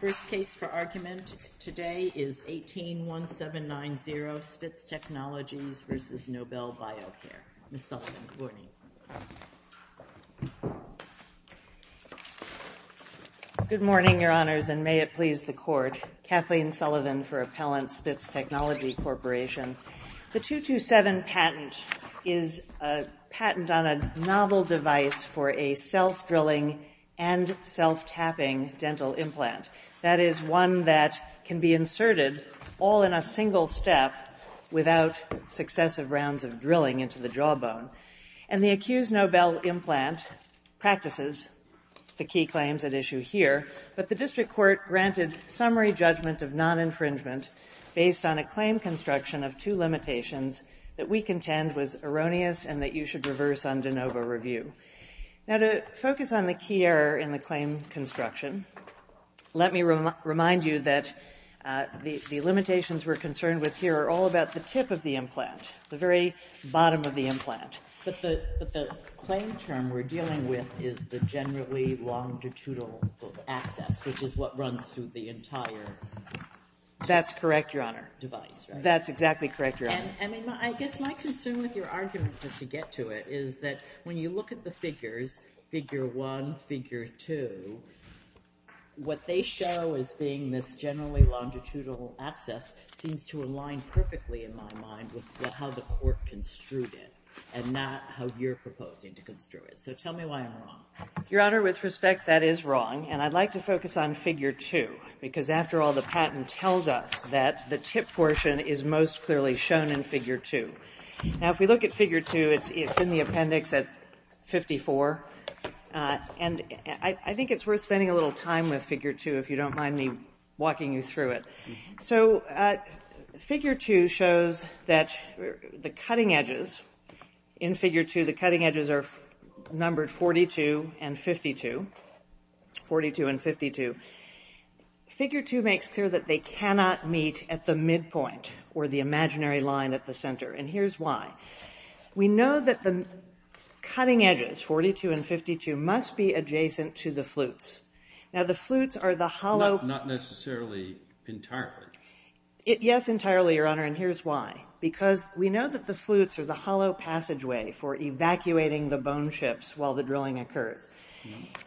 First case for argument today is 18-1790 Spitz Technologies v. Nobel Biocare. Ms. Sullivan, good morning. Good morning, Your Honors, and may it please the Court. Kathleen Sullivan for Appellant Spitz Technologies Corporation. The 227 patent is a patent on a novel device for a self-drilling and self-tapping dental implant. That is, one that can be inserted all in a single step without successive rounds of drilling into the jawbone. And the accused Nobel implant practices the key claims at issue here, but the District Court granted summary judgment of non-infringement based on a claim construction of two limitations that we contend was erroneous and that you should reverse on de novo review. Now to focus on the key error in the claim construction, let me remind you that the limitations we're concerned with here are all about the tip of the implant, the very bottom of the implant. But the claim term we're dealing with is the generally longitudinal access, which is what runs through the entire device, right? That's correct, Your Honor. That's exactly correct, Your Honor. And I guess my concern with your argument, just to get to it, is that when you look at the figures, figure one, figure two, what they show as being this generally longitudinal access seems to align perfectly, in my mind, with how the Court construed it and not how you're proposing to construe it. So tell me why I'm wrong. Your Honor, with all due respect, that is wrong, and I'd like to focus on figure two, because after all, the patent tells us that the tip portion is most clearly shown in figure two. Now if we look at figure two, it's in the appendix at 54, and I think it's worth spending a little time with figure two if you don't mind me walking you through it. So figure two shows that the cutting edges in figure two, the cutting edges are numbered 42 and 52, 42 and 52. Figure two makes clear that they cannot meet at the midpoint or the imaginary line at the center, and here's why. We know that the cutting edges, 42 and 52, must be adjacent to the flutes. Now the flutes are the hollow... Not necessarily entirely. Yes, entirely, Your Honor, and here's why. Because we know that the flutes are the hollow passageway for evacuating the bone ships while the drilling occurs.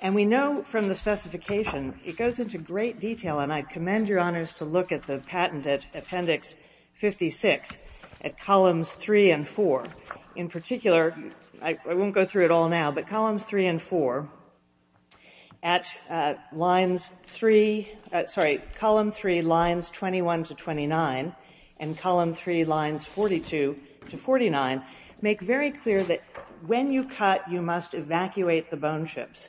And we know from the specification, it goes into great detail, and I commend Your Honors to look at the patent at appendix 56 at columns three and four. In particular, I won't go through it all now, but columns three and four at lines three, sorry, column three lines 21 to 29, and column three lines 21 to 29, and column three lines 42 to 49, make very clear that when you cut, you must evacuate the bone ships.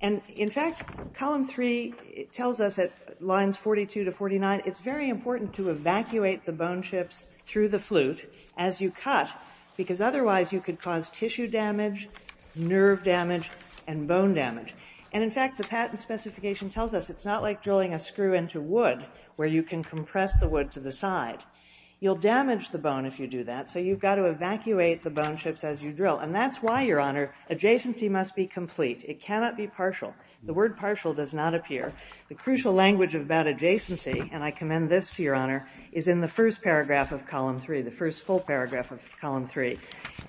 And in fact, column three tells us at lines 42 to 49, it's very important to evacuate the bone ships through the flute as you cut, because otherwise you could cause tissue damage, nerve damage, and bone damage. And in fact, the patent specification tells us it's not like drilling a screw into wood where you can compress the wood to the side. You'll damage the bone if you do that, so you've got to evacuate the bone ships as you drill. And that's why, Your Honor, adjacency must be complete. It cannot be partial. The word partial does not appear. The crucial language about adjacency, and I commend this to Your Honor, is in the first paragraph of column three, the first full paragraph of column three.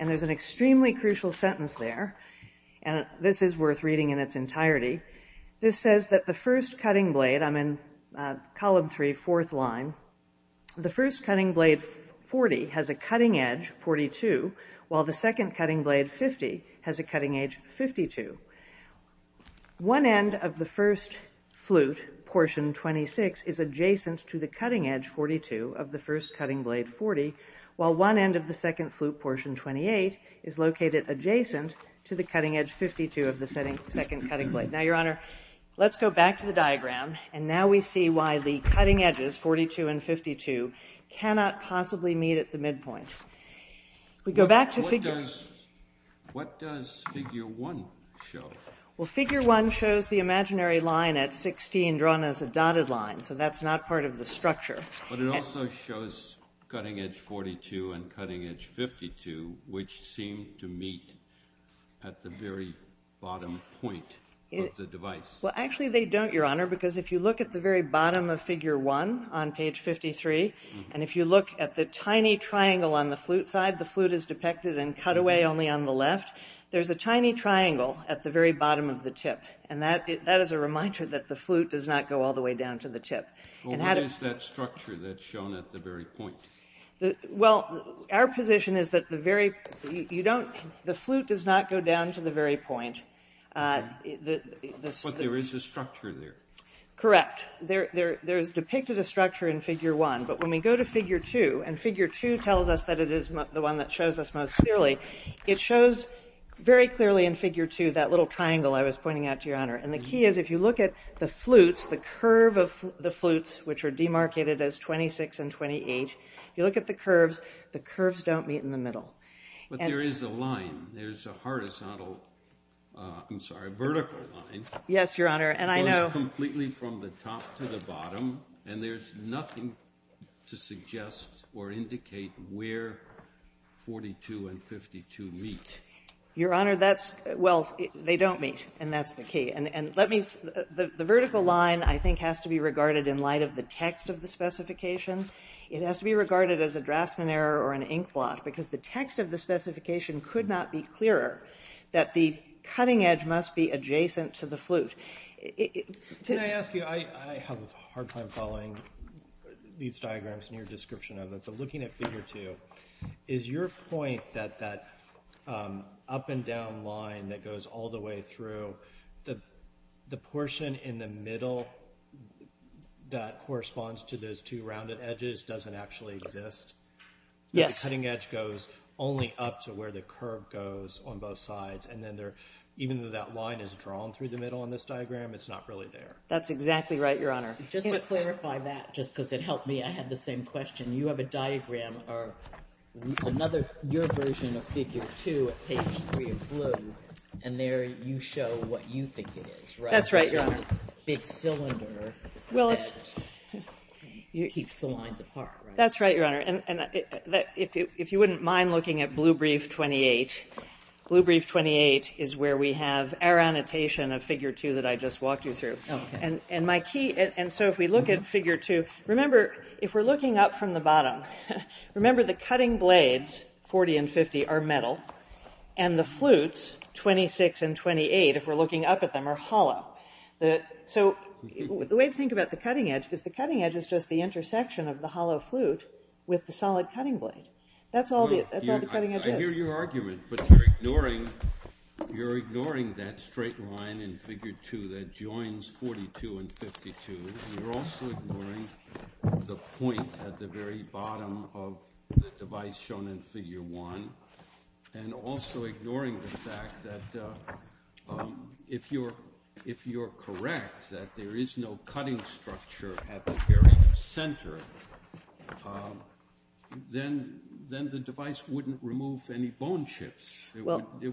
And there's an extremely crucial sentence there, and this is worth reading in its entirety. This says that the first cutting blade, I'm in column three, fourth line, the first cutting blade 40 has a cutting edge 42, while the second cutting blade 50 has a cutting edge 52. One end of the first flute, portion 26, is adjacent to the cutting edge 42 of the first cutting blade 40, while one end of the second flute, portion 28, is located adjacent to the cutting edge 52 of the second cutting blade. Now, Your Honor, let's go back to the diagram, and now we see why the cutting edges, 42 and 52, cannot possibly meet at the midpoint. We go back to figure... What does figure one show? Well, figure one shows the imaginary line at 16 drawn as a dotted line, so that's not part of the structure. But it also shows cutting edge 42 and cutting edge 52, which seem to meet at the very bottom point of the device. Well, actually they don't, Your Honor, because if you look at the very bottom of figure one on page 53, and if you look at the tiny triangle on the flute side, the flute is depicted in cutaway only on the left. There's a tiny triangle at the very bottom of the tip, and that is a reminder that the flute does not go all the way down to the tip. Well, what is that structure that's shown at the very point? Well, our position is that the flute does not go down to the very point. But there is a structure there. Correct. There is depicted a structure in figure one, but when we go to figure two, and figure two tells us that it is the one that shows us most clearly, it shows very clearly in figure two that little triangle I was pointing out to you, Your Honor. And the key is if you look at the flutes, the curve of the flutes, which are demarcated as 26 and 28, if you look at the curves, the curves don't meet in the middle. But there is a line, there's a horizontal, I'm sorry, vertical line. Yes, Your Honor, and I know... Goes completely from the top to the bottom, and there's nothing to suggest or indicate where 42 and 52 meet. Your Honor, that's, well, they don't meet, and that's the key. And let me, the vertical line, I think, has to be regarded in light of the text of the specification. It has to be regarded as a Draftsman error or an inkblot, because the text of the specification could not be clearer, that the cutting edge must be adjacent to the flute. Can I ask you, I have a hard time following these diagrams and your description of it, but looking at figure two, is your point that that up and down line that goes all the way through, the portion in the middle that corresponds to those two rounded edges doesn't actually exist? Yes. The cutting edge goes only up to where the curve goes on both sides, and then there, even though that line is drawn through the middle on this diagram, it's not really there? That's exactly right, Your Honor. Just to clarify that, just because it helped me, I had the same question. You have a diagram or another, your version of figure two at page three of blue, and there you show what you think it is, right? That's right, Your Honor. So it's this big cylinder that keeps the lines apart, right? That's right, Your Honor. And if you wouldn't mind looking at Blue Brief 28, Blue Brief 28 is where we have our annotation of figure two that I just walked you through. And my Remember the cutting blades, 40 and 50, are metal, and the flutes, 26 and 28, if we're looking up at them, are hollow. So the way to think about the cutting edge is the cutting edge is just the intersection of the hollow flute with the solid cutting blade. That's all the cutting edge is. I hear your argument, but you're ignoring that straight line in figure two that joins 42 and 52. You're also ignoring the point at the very bottom of the device shown in figure one, and also ignoring the fact that if you're correct that there is no cutting structure at the very center, then the device wouldn't remove any bone chips. It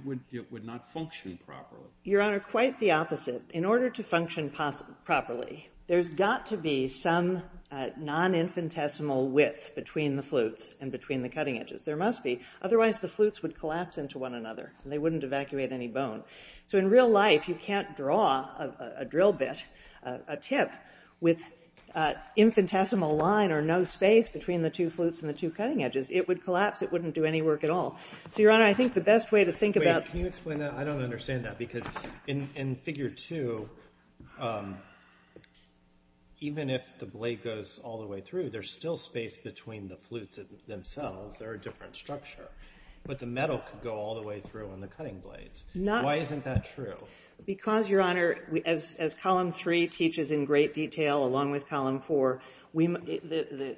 would not function properly. Your Honor, quite the opposite. In order to function properly, there's got to be some non-infinitesimal width between the flutes and between the cutting edges. There must be. Otherwise, the flutes would collapse into one another, and they wouldn't evacuate any bone. So in real life, you can't draw a drill bit, a tip, with infinitesimal line or no space between the two flutes and the two cutting edges. It would collapse. It wouldn't do any work at all. So, Your Honor, I think the best way to think about Can you explain that? I don't understand that. Because in figure two, even if the blade goes all the way through, there's still space between the flutes themselves. They're a different structure. But the metal could go all the way through on the cutting blades. Why isn't that true? Because, Your Honor, as column three teaches in great detail, along with column four, the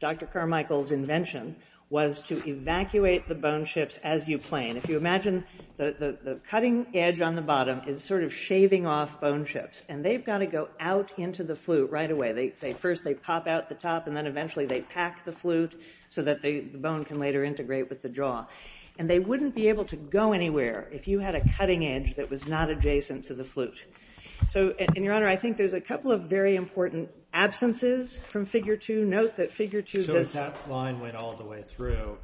Dr. Carmichael's invention was to evacuate the bone chips as you plane. If you imagine the cutting edge on the bottom is sort of shaving off bone chips, and they've got to go out into the flute right away. First they pop out the top, and then eventually they pack the flute so that the bone can later integrate with the jaw. And they wouldn't be able to go anywhere if you had a cutting edge that was not adjacent to the flute. So, Your Honor, I think there's a couple of very important absences from figure two. So if that line went all the way through,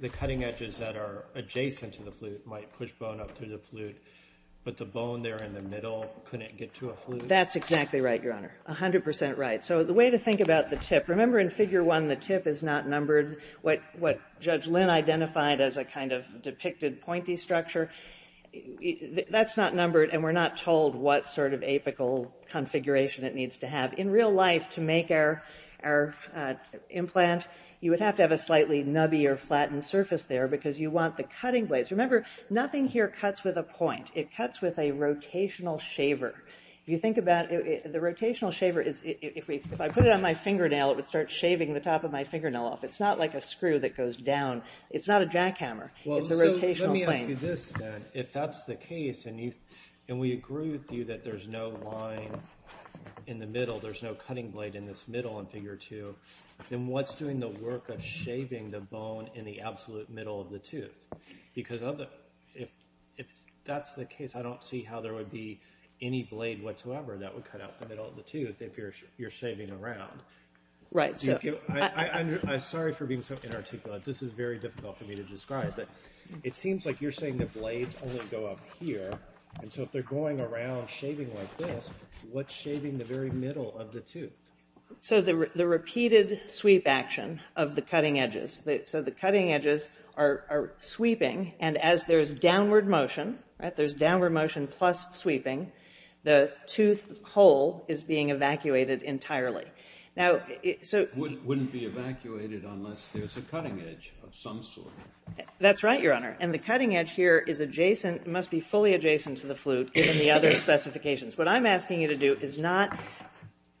the cutting edges that are adjacent to the flute might push bone up through the flute, but the bone there in the middle couldn't get to a flute? That's exactly right, Your Honor. A hundred percent right. So the way to think about the tip. Remember in figure one, the tip is not numbered. What Judge Lynn identified as a kind of depicted pointy structure, that's not numbered, and we're not told what sort of apical configuration it needs to have. In real life, to make our implant, you would have to have a slightly nubby or flattened surface there because you want the cutting blades. Remember, nothing here cuts with a point. It cuts with a rotational shaver. If you think about it, the rotational shaver, if I put it on my fingernail, it would start shaving the top of my fingernail off. It's not like a screw that goes down. It's not a jackhammer. It's a rotational plane. If that's the case, and we agree with you that there's no line in the middle, there's no cutting blade in this middle in figure two, then what's doing the work of shaving the bone in the absolute middle of the tooth? Because if that's the case, I don't see how there would be any blade whatsoever that would cut out the middle of the tooth if you're shaving around. Right. I'm sorry for being so inarticulate. This is very difficult for me to describe, but it seems like you're saying the blades only go up here, and so if they're going around shaving like this, what's shaving the very middle of the tooth? The repeated sweep action of the cutting edges. The cutting edges are sweeping, and as there's downward motion, there's downward motion plus sweeping, the tooth hole is being evacuated entirely. It wouldn't be evacuated unless there's a cutting edge of some sort. That's right, Your Honor. And the cutting edge here is adjacent, must be fully adjacent to the flute given the other specifications. What I'm asking you to do is not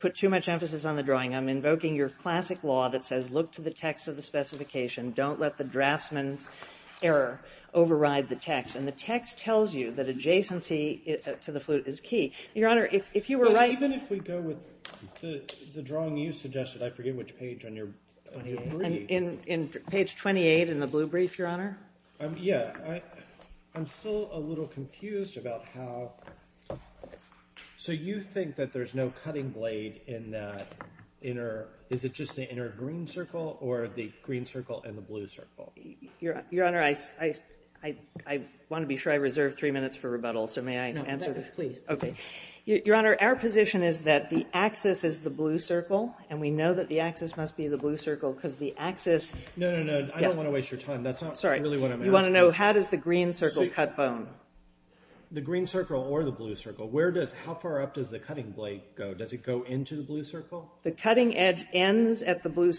put too much emphasis on the drawing. I'm invoking your classic law that says look to the text of the specification, don't let the draftsman's error override the text. And the text tells you that adjacency to the flute is key. Your Honor, if you were right... But even if we go with the drawing you suggested, I forget which page on your brief. In page 28 in the blue brief, Your Honor. Yeah. I'm still a little confused about how... So you think that there's no cutting blade in that inner... Is it just the inner green circle or the green circle and the blue circle? Your Honor, I want to be sure I reserve three minutes for rebuttal, so may I answer that? No, please. Okay. Your Honor, our position is that the axis is the blue circle, and we know that the axis must be the blue circle because the axis... No, no, no. I don't want to waste your time. That's not really what I'm asking. Sorry. You want to know how does the green circle cut bone? The green circle or the blue circle. How far up does the cutting blade go? Does it go into the blue circle? The cutting edge begins at the blue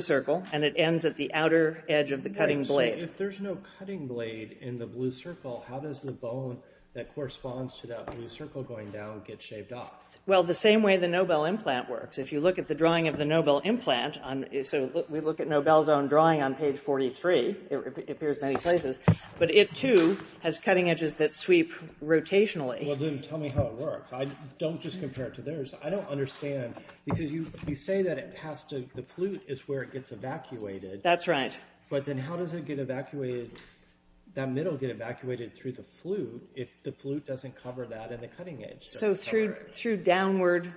circle, and it ends at the outer edge of the cutting blade. So if there's no cutting blade in the blue circle, how does the bone that corresponds to that blue circle going down get shaved off? Well, the same way the Nobel implant works. If you look at the drawing of the Nobel implant, so we look at Nobel's own drawing on page 43, it appears many places, but it too has cutting edges that sweep rotationally. Well, then tell me how it works. Don't just compare it to theirs. I don't understand because you say that the flute is where it gets evacuated. That's right. But then how does that middle get evacuated through the flute So through downward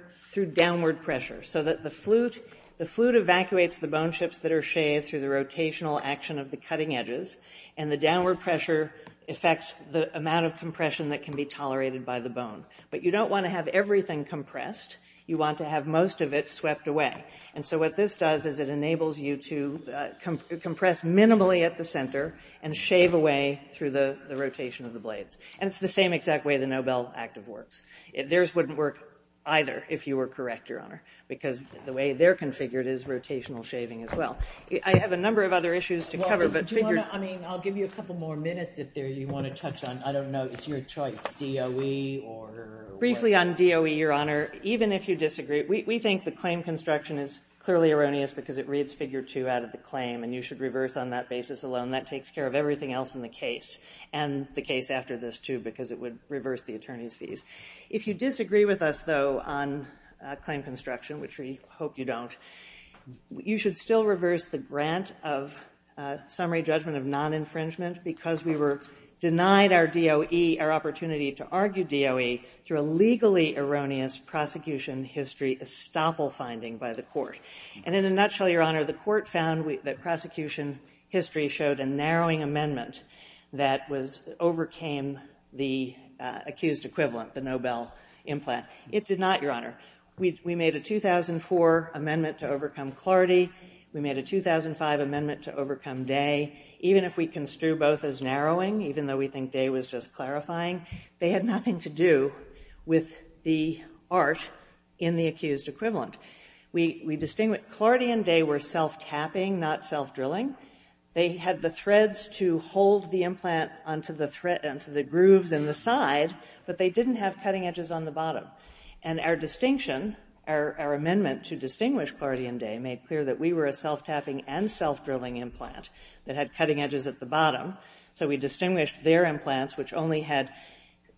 pressure. So that the flute evacuates the bone chips that are shaved through the rotational action of the cutting edges, and the downward pressure affects the amount of compression that can be tolerated by the bone. But you don't want to have everything compressed. You want to have most of it swept away. And so what this does is it enables you to compress minimally at the center and shave away through the rotation of the blades. And it's the same exact way the Nobel active works. Theirs wouldn't work either if you were correct, Your Honor, because the way they're configured is rotational shaving as well. I have a number of other issues to cover. I mean, I'll give you a couple more minutes if you want to touch on, I don't know, it's your choice, DOE or Briefly on DOE, Your Honor, even if you disagree, we think the claim construction is clearly erroneous because it reads figure two out of the claim, and you should reverse on that basis alone. That takes care of everything else in the case, and the case after this, too, because it would reverse the attorney's fees. If you disagree with us, though, on claim construction, which we hope you don't, you should still reverse the grant of summary judgment of non-infringement because we were denied our DOE, our opportunity to argue DOE, through a legally erroneous prosecution history estoppel finding by the court. And in a nutshell, Your Honor, the court found that prosecution history showed a narrowing amendment that overcame the accused equivalent, the Nobel implant. It did not, Your Honor. We made a 2004 amendment to overcome Clardy. We made a 2005 amendment to overcome Day. Even if we construe both as narrowing, even though we think Day was just clarifying, they had nothing to do with the art in the accused equivalent. We distinguish Clardy and Day were self-tapping, not self-drilling. They had the threads to hold the implant onto the grooves in the side, but they didn't have cutting edges on the bottom. And our distinction, our amendment to distinguish Clardy and Day, made clear that we were a self-tapping and self-drilling implant that had cutting edges at the bottom. So we distinguished their implants, which only had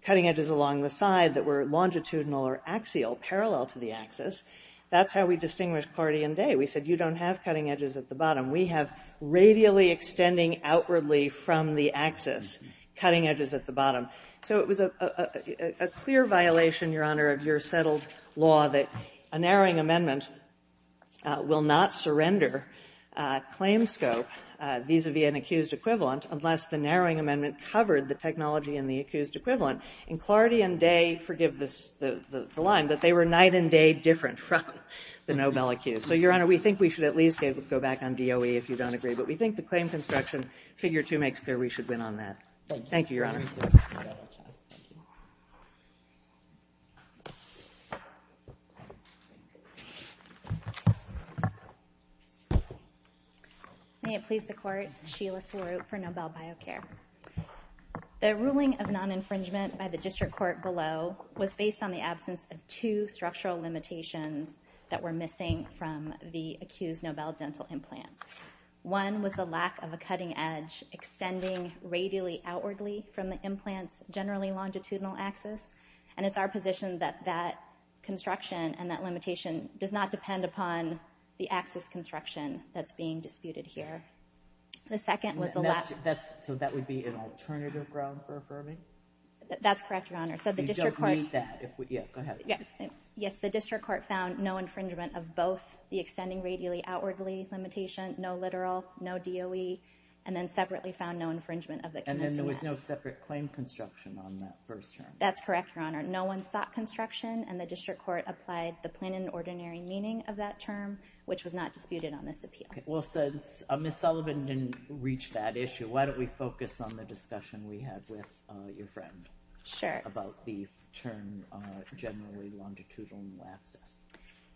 cutting edges along the side that were longitudinal or axial, parallel to the axis. That's how we distinguished Clardy and Day. We said you don't have cutting edges at the bottom. We have radially extending outwardly from the axis, cutting edges at the bottom. So it was a clear violation, Your Honor, of your settled law that a narrowing amendment will not surrender claim scope vis-à-vis an accused equivalent unless the narrowing amendment covered the technology in the accused equivalent. And Clardy and Day, forgive the line, but they were night and day different from the Nobel accused. So, Your Honor, we think we should at least go back on DOE if you don't agree, but we think the claim construction figure two makes clear we should win on that. Thank you, Your Honor. Thank you. May it please the Court, Sheila Seward for Nobel BioCare. The ruling of non-infringement by the district court below was based on the absence of two structural limitations that were missing from the accused Nobel dental implant. One was the lack of a cutting edge extending radially outwardly from the implant's generally longitudinal axis. And it's our position that that construction and that limitation does not depend upon the axis construction that's being disputed here. The second was the lack... So that would be an alternative ground for affirming? That's correct, Your Honor. You don't need that. Go ahead. Yes, the district court found no infringement of both the extending radially outwardly limitation, no literal, no DOE, and then separately found no infringement of the... And then there was no separate claim construction on that first term? That's correct, Your Honor. No one sought construction, and the district court applied the plain and ordinary meaning of that term, which was not disputed on this appeal. Well, since Ms. Sullivan didn't reach that issue, why don't we focus on the discussion we had with your friend... Sure. ...about the term generally longitudinal axis?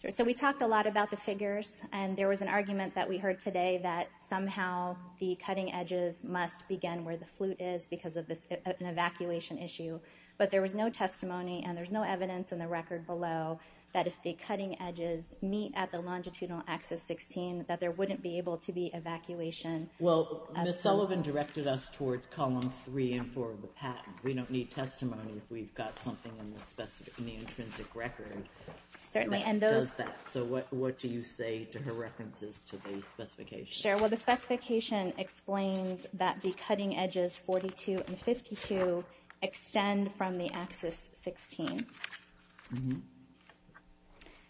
So we talked a lot about the figures, and there was an argument that we heard today that somehow the cutting edges must begin where the flute is because of an evacuation issue. But there was no testimony, and there's no evidence in the record below that if the cutting edges meet at the longitudinal axis 16 that there wouldn't be able to be evacuation. Well, Ms. Sullivan directed us towards column 3 and 4 of the patent. We don't need testimony if we've got something in the intrinsic record... Certainly, and those... ...that does that. So what do you say to her references to the specification? Sure. Well, the specification explains that the cutting edges 42 and 52 extend from the axis 16.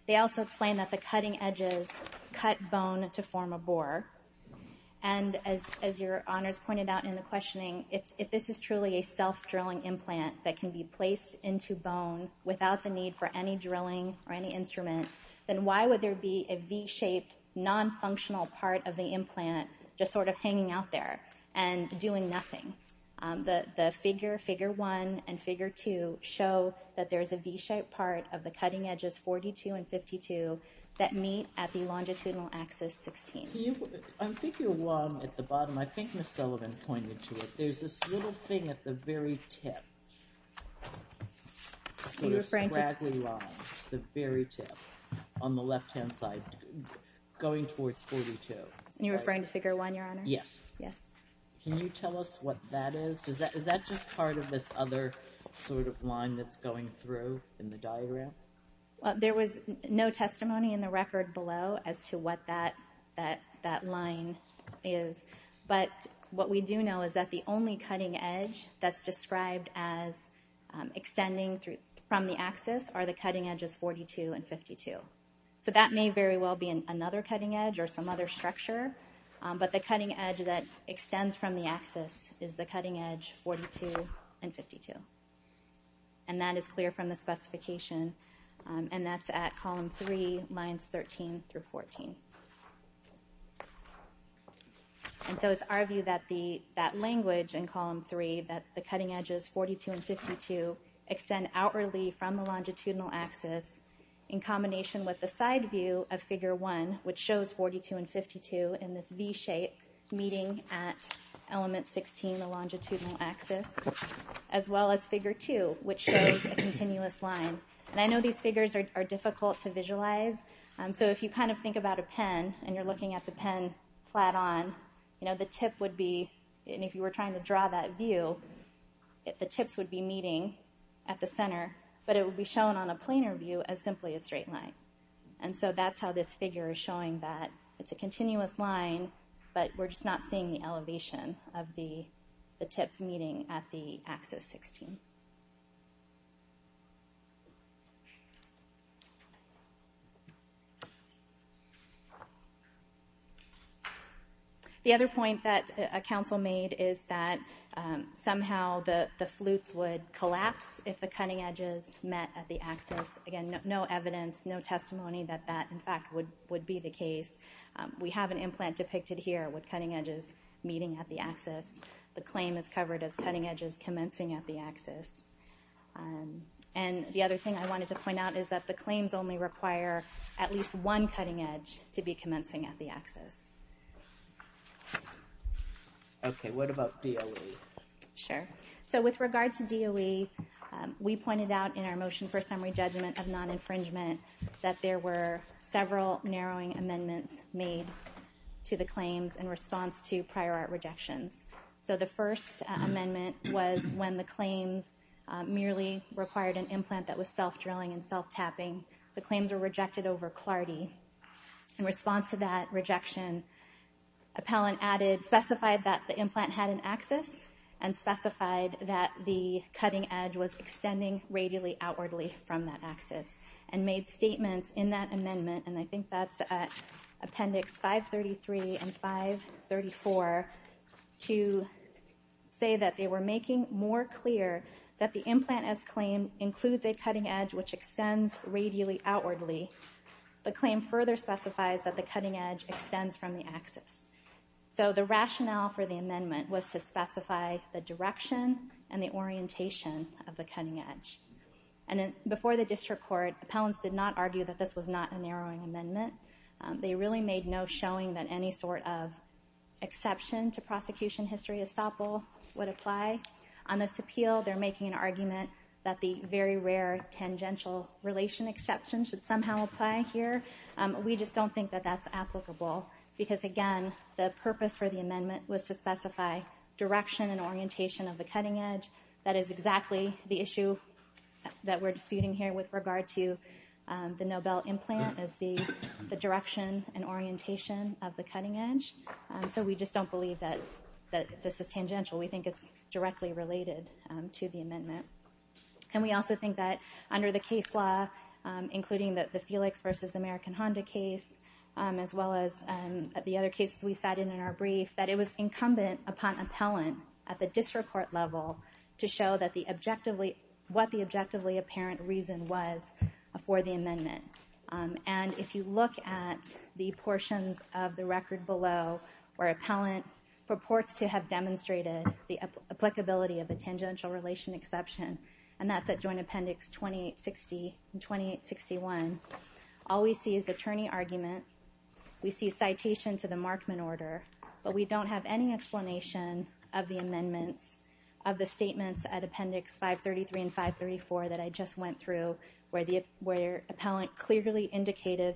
They also explain that the cutting edges cut bone to form a bore. And as Your Honors pointed out in the questioning, if this is truly a self-drilling implant that can be placed into bone without the need for any drilling or any instrument, then why would there be a V-shaped nonfunctional part of the implant just sort of hanging out there and doing nothing? The figure 1 and figure 2 show that there's a V-shaped part of the cutting edges 42 and 52 that meet at the longitudinal axis 16. On figure 1 at the bottom, I think Ms. Sullivan pointed to it, there's this little thing at the very tip, sort of scraggly line, the very tip on the left-hand side going towards 42. You're referring to figure 1, Your Honor? Yes. Can you tell us what that is? Is that just part of this other sort of line that's going through in the diagram? There was no testimony in the record below as to what that line is. But what we do know is that the only cutting edge that's described as extending from the axis are the cutting edges 42 and 52. So that may very well be another cutting edge or some other structure, but the cutting edge that extends from the axis is the cutting edge 42 and 52. And that is clear from the specification, and that's at column 3, lines 13 through 14. And so it's our view that language in column 3, that the cutting edges 42 and 52 extend outwardly from the longitudinal axis in combination with the side view of figure 1, which shows 42 and 52 in this V-shape meeting at element 16, as well as figure 2, which shows a continuous line. And I know these figures are difficult to visualize, so if you kind of think about a pen and you're looking at the pen flat on, the tip would be, and if you were trying to draw that view, the tips would be meeting at the center, but it would be shown on a planar view as simply a straight line. And so that's how this figure is showing that. It's a continuous line, but we're just not seeing the elevation of the tips meeting at the axis 16. The other point that a council made is that somehow the flutes would collapse if the cutting edges met at the axis. Again, no evidence, no testimony that that, in fact, would be the case. We have an implant depicted here with cutting edges meeting at the axis. The claim is covered as cutting edges commencing at the axis. And the other thing I wanted to point out is that the claims only require at least one cutting edge to be commencing at the axis. Okay. What about DOE? Sure. So with regard to DOE, we pointed out in our motion for summary judgment of non-infringement that there were several narrowing amendments made to the claims in response to prior art rejections. So the first amendment was when the claims merely required an implant that was self-drilling and self-tapping. The claims were rejected over CLARDI. In response to that rejection, appellant added, specified that the implant had an axis and made statements in that amendment, and I think that's Appendix 533 and 534, to say that they were making more clear that the implant as claimed includes a cutting edge which extends radially outwardly. The claim further specifies that the cutting edge extends from the axis. So the rationale for the amendment was to specify the direction and the orientation of the cutting edge. And before the district court, appellants did not argue that this was not a narrowing amendment. They really made no showing that any sort of exception to prosecution history estoppel would apply. On this appeal, they're making an argument that the very rare tangential relation exception should somehow apply here. We just don't think that that's applicable because, again, the purpose for the amendment was to specify direction and orientation of the cutting edge. That is exactly the issue that we're disputing here with regard to the Nobel implant as the direction and orientation of the cutting edge. So we just don't believe that this is tangential. We think it's directly related to the amendment. And we also think that under the case law, including the Felix v. American Honda case, as well as the other cases we cited in our brief, that it was incumbent upon appellant at the district court level to show what the objectively apparent reason was for the amendment. And if you look at the portions of the record below where appellant purports to have demonstrated the applicability of the tangential relation exception, and that's at Joint Appendix 2860 and 2861, all we see is attorney argument. We see citation to the Markman order, but we don't have any explanation of the amendments of the statements at Appendix 533 and 534 that I just went through where appellant clearly indicated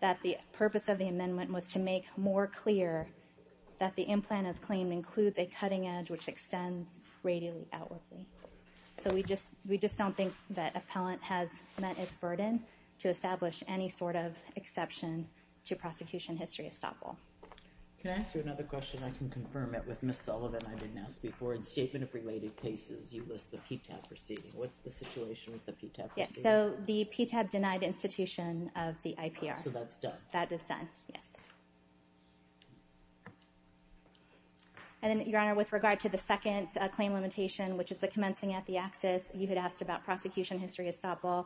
that the purpose of the amendment was to make more clear that the implant as claimed includes a cutting edge which extends radially outwardly. So we just don't think that appellant has met its burden to establish any sort of exception to prosecution history estoppel. Can I ask you another question? I can confirm it with Ms. Sullivan I didn't ask before. In statement of related cases, you list the PTAB proceeding. What's the situation with the PTAB proceeding? Yes, so the PTAB denied institution of the IPR. So that's done? That is done, yes. And then, Your Honor, with regard to the second claim limitation, which is the commencing at the axis, you had asked about prosecution history estoppel.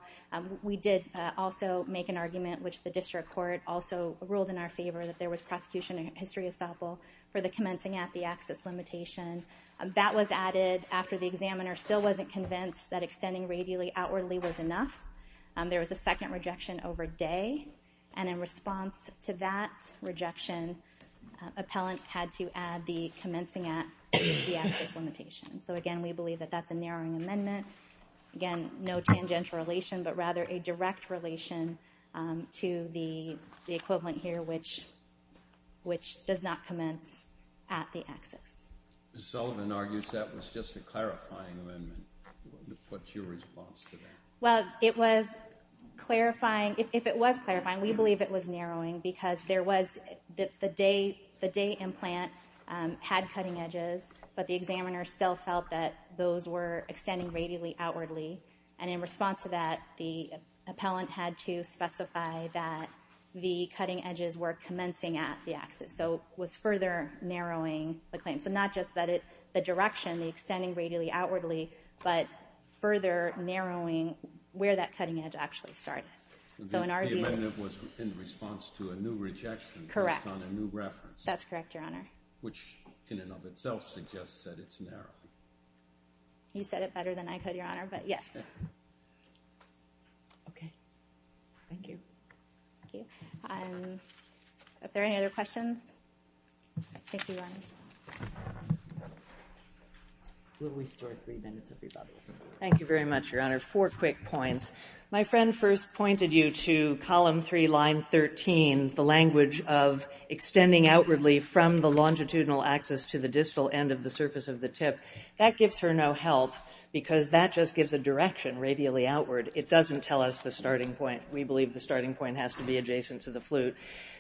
We did also make an argument, which the district court also ruled in our favor, that there was prosecution history estoppel for the commencing at the axis limitation. That was added after the examiner still wasn't convinced that extending radially outwardly was enough. There was a second rejection over day, and in response to that rejection, appellant had to add the commencing at the axis limitation. So again, we believe that that's a narrowing amendment. Again, no tangential relation, but rather a direct relation to the equivalent here, which does not commence at the axis. Ms. Sullivan argues that was just a clarifying amendment. What's your response to that? Well, it was clarifying. If it was clarifying, we believe it was narrowing because the day implant had cutting edges, but the examiner still felt that those were extending radially outwardly, and in response to that, the appellant had to specify that the cutting edges were commencing at the axis, so it was further narrowing the claim. So not just the direction, the extending radially outwardly, but further narrowing where that cutting edge actually started. The amendment was in response to a new rejection based on a new reference. Correct. That's correct, Your Honor. Which in and of itself suggests that it's narrow. You said it better than I could, Your Honor, but yes. Okay. Thank you. Thank you. Are there any other questions? Thank you, Your Honors. We'll restore three minutes, everybody. Thank you very much, Your Honor. Four quick points. My friend first pointed you to Column 3, Line 13, the language of extending outwardly from the longitudinal axis to the distal end of the surface of the tip. That gives her no help because that just gives a direction radially outward. It doesn't tell us the starting point. We believe the starting point has to be adjacent to the flute.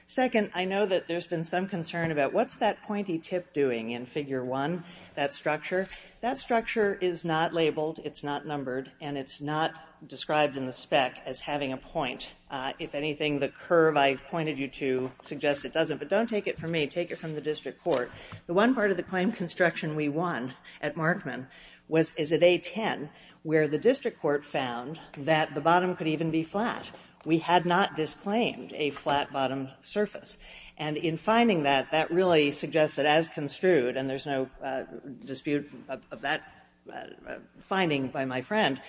Second, I know that there's been some concern about what's that pointy tip doing in Figure 1, that structure. That structure is not labeled, it's not numbered, and it's not described in the spec as having a point. If anything, the curve I pointed you to suggests it doesn't, but don't take it from me. Take it from the district court. The one part of the claim construction we won at Markman is at A10 where the district court found that the bottom could even be flat. We had not disclaimed a flat bottom surface. And in finding that, that really suggests that as construed, and there's no dispute of that finding by my friend,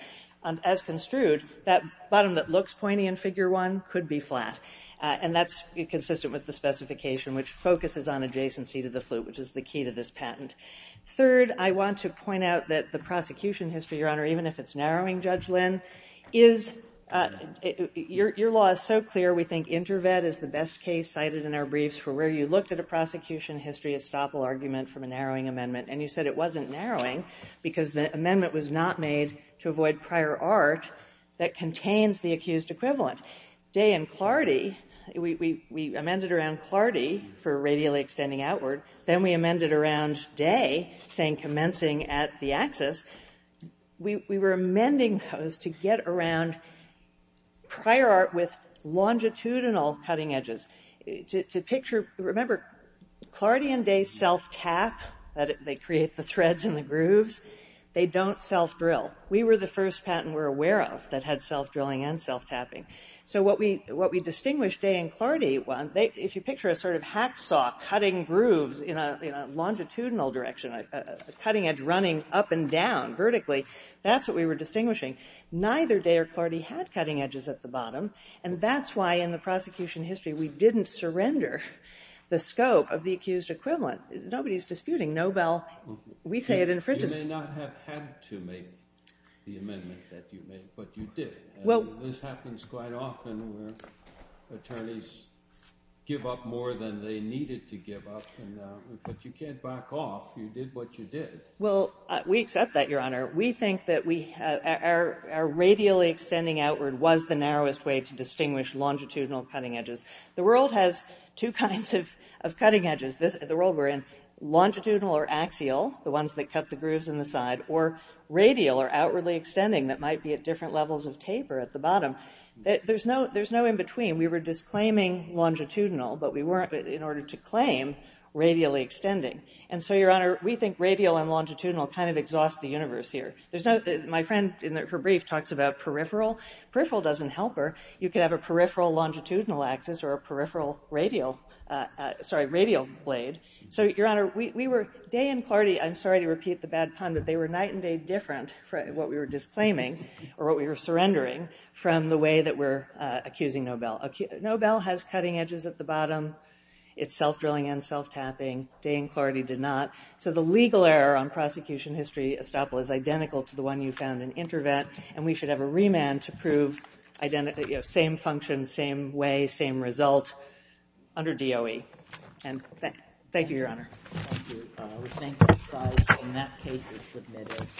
as construed, that bottom that looks pointy in Figure 1 could be flat. And that's consistent with the specification which focuses on adjacency to the flute, which is the key to this patent. Third, I want to point out that the prosecution history, Your Honor, even if it's narrowing, Judge Lynn, your law is so clear we think InterVet is the best case cited in our briefs for where you looked at a prosecution history estoppel argument from a narrowing amendment, and you said it wasn't narrowing because the amendment was not made to avoid prior art that contains the accused equivalent. Day and Clardy, we amended around Clardy for radially extending outward. Then we amended around Day saying commencing at the axis. We were amending those to get around prior art with longitudinal cutting edges. Remember, Clardy and Day self-tap, they create the threads and the grooves. They don't self-drill. We were the first patent we're aware of that had self-drilling and self-tapping. So what we distinguished Day and Clardy, if you picture a sort of hacksaw cutting grooves in a longitudinal direction, a cutting edge running up and down vertically, that's what we were distinguishing. Neither Day or Clardy had cutting edges at the bottom, and that's why in the prosecution history we didn't surrender the scope of the accused equivalent. Nobody's disputing Nobel. We say it infringes. You may not have had to make the amendment that you made, but you did. This happens quite often where attorneys give up more than they needed to give up, but you can't back off. You did what you did. Well, we accept that, Your Honor. We think that our radially extending outward was the narrowest way to distinguish longitudinal cutting edges. The world has two kinds of cutting edges. The world we're in, longitudinal or axial, the ones that cut the grooves in the side, or radial or outwardly extending that might be at different levels of taper at the bottom. There's no in-between. We were disclaiming longitudinal, but we weren't, in order to claim, radially extending. And so, Your Honor, we think radial and longitudinal kind of exhaust the universe here. My friend in her brief talks about peripheral. Peripheral doesn't help her. You could have a peripheral longitudinal axis or a peripheral radial blade. So, Your Honor, we were... Day and Clardy, I'm sorry to repeat the bad pun, but they were night and day different, what we were disclaiming, or what we were surrendering, from the way that we're accusing Nobel. Nobel has cutting edges at the bottom. It's self-drilling and self-tapping. Day and Clardy did not. So the legal error on prosecution history, Estoppel, is identical to the one you found in Intervent, and we should have a remand to prove same function, same way, same result under DOE. And thank you, Your Honor. Thank you. We thank both sides. And that case is submitted.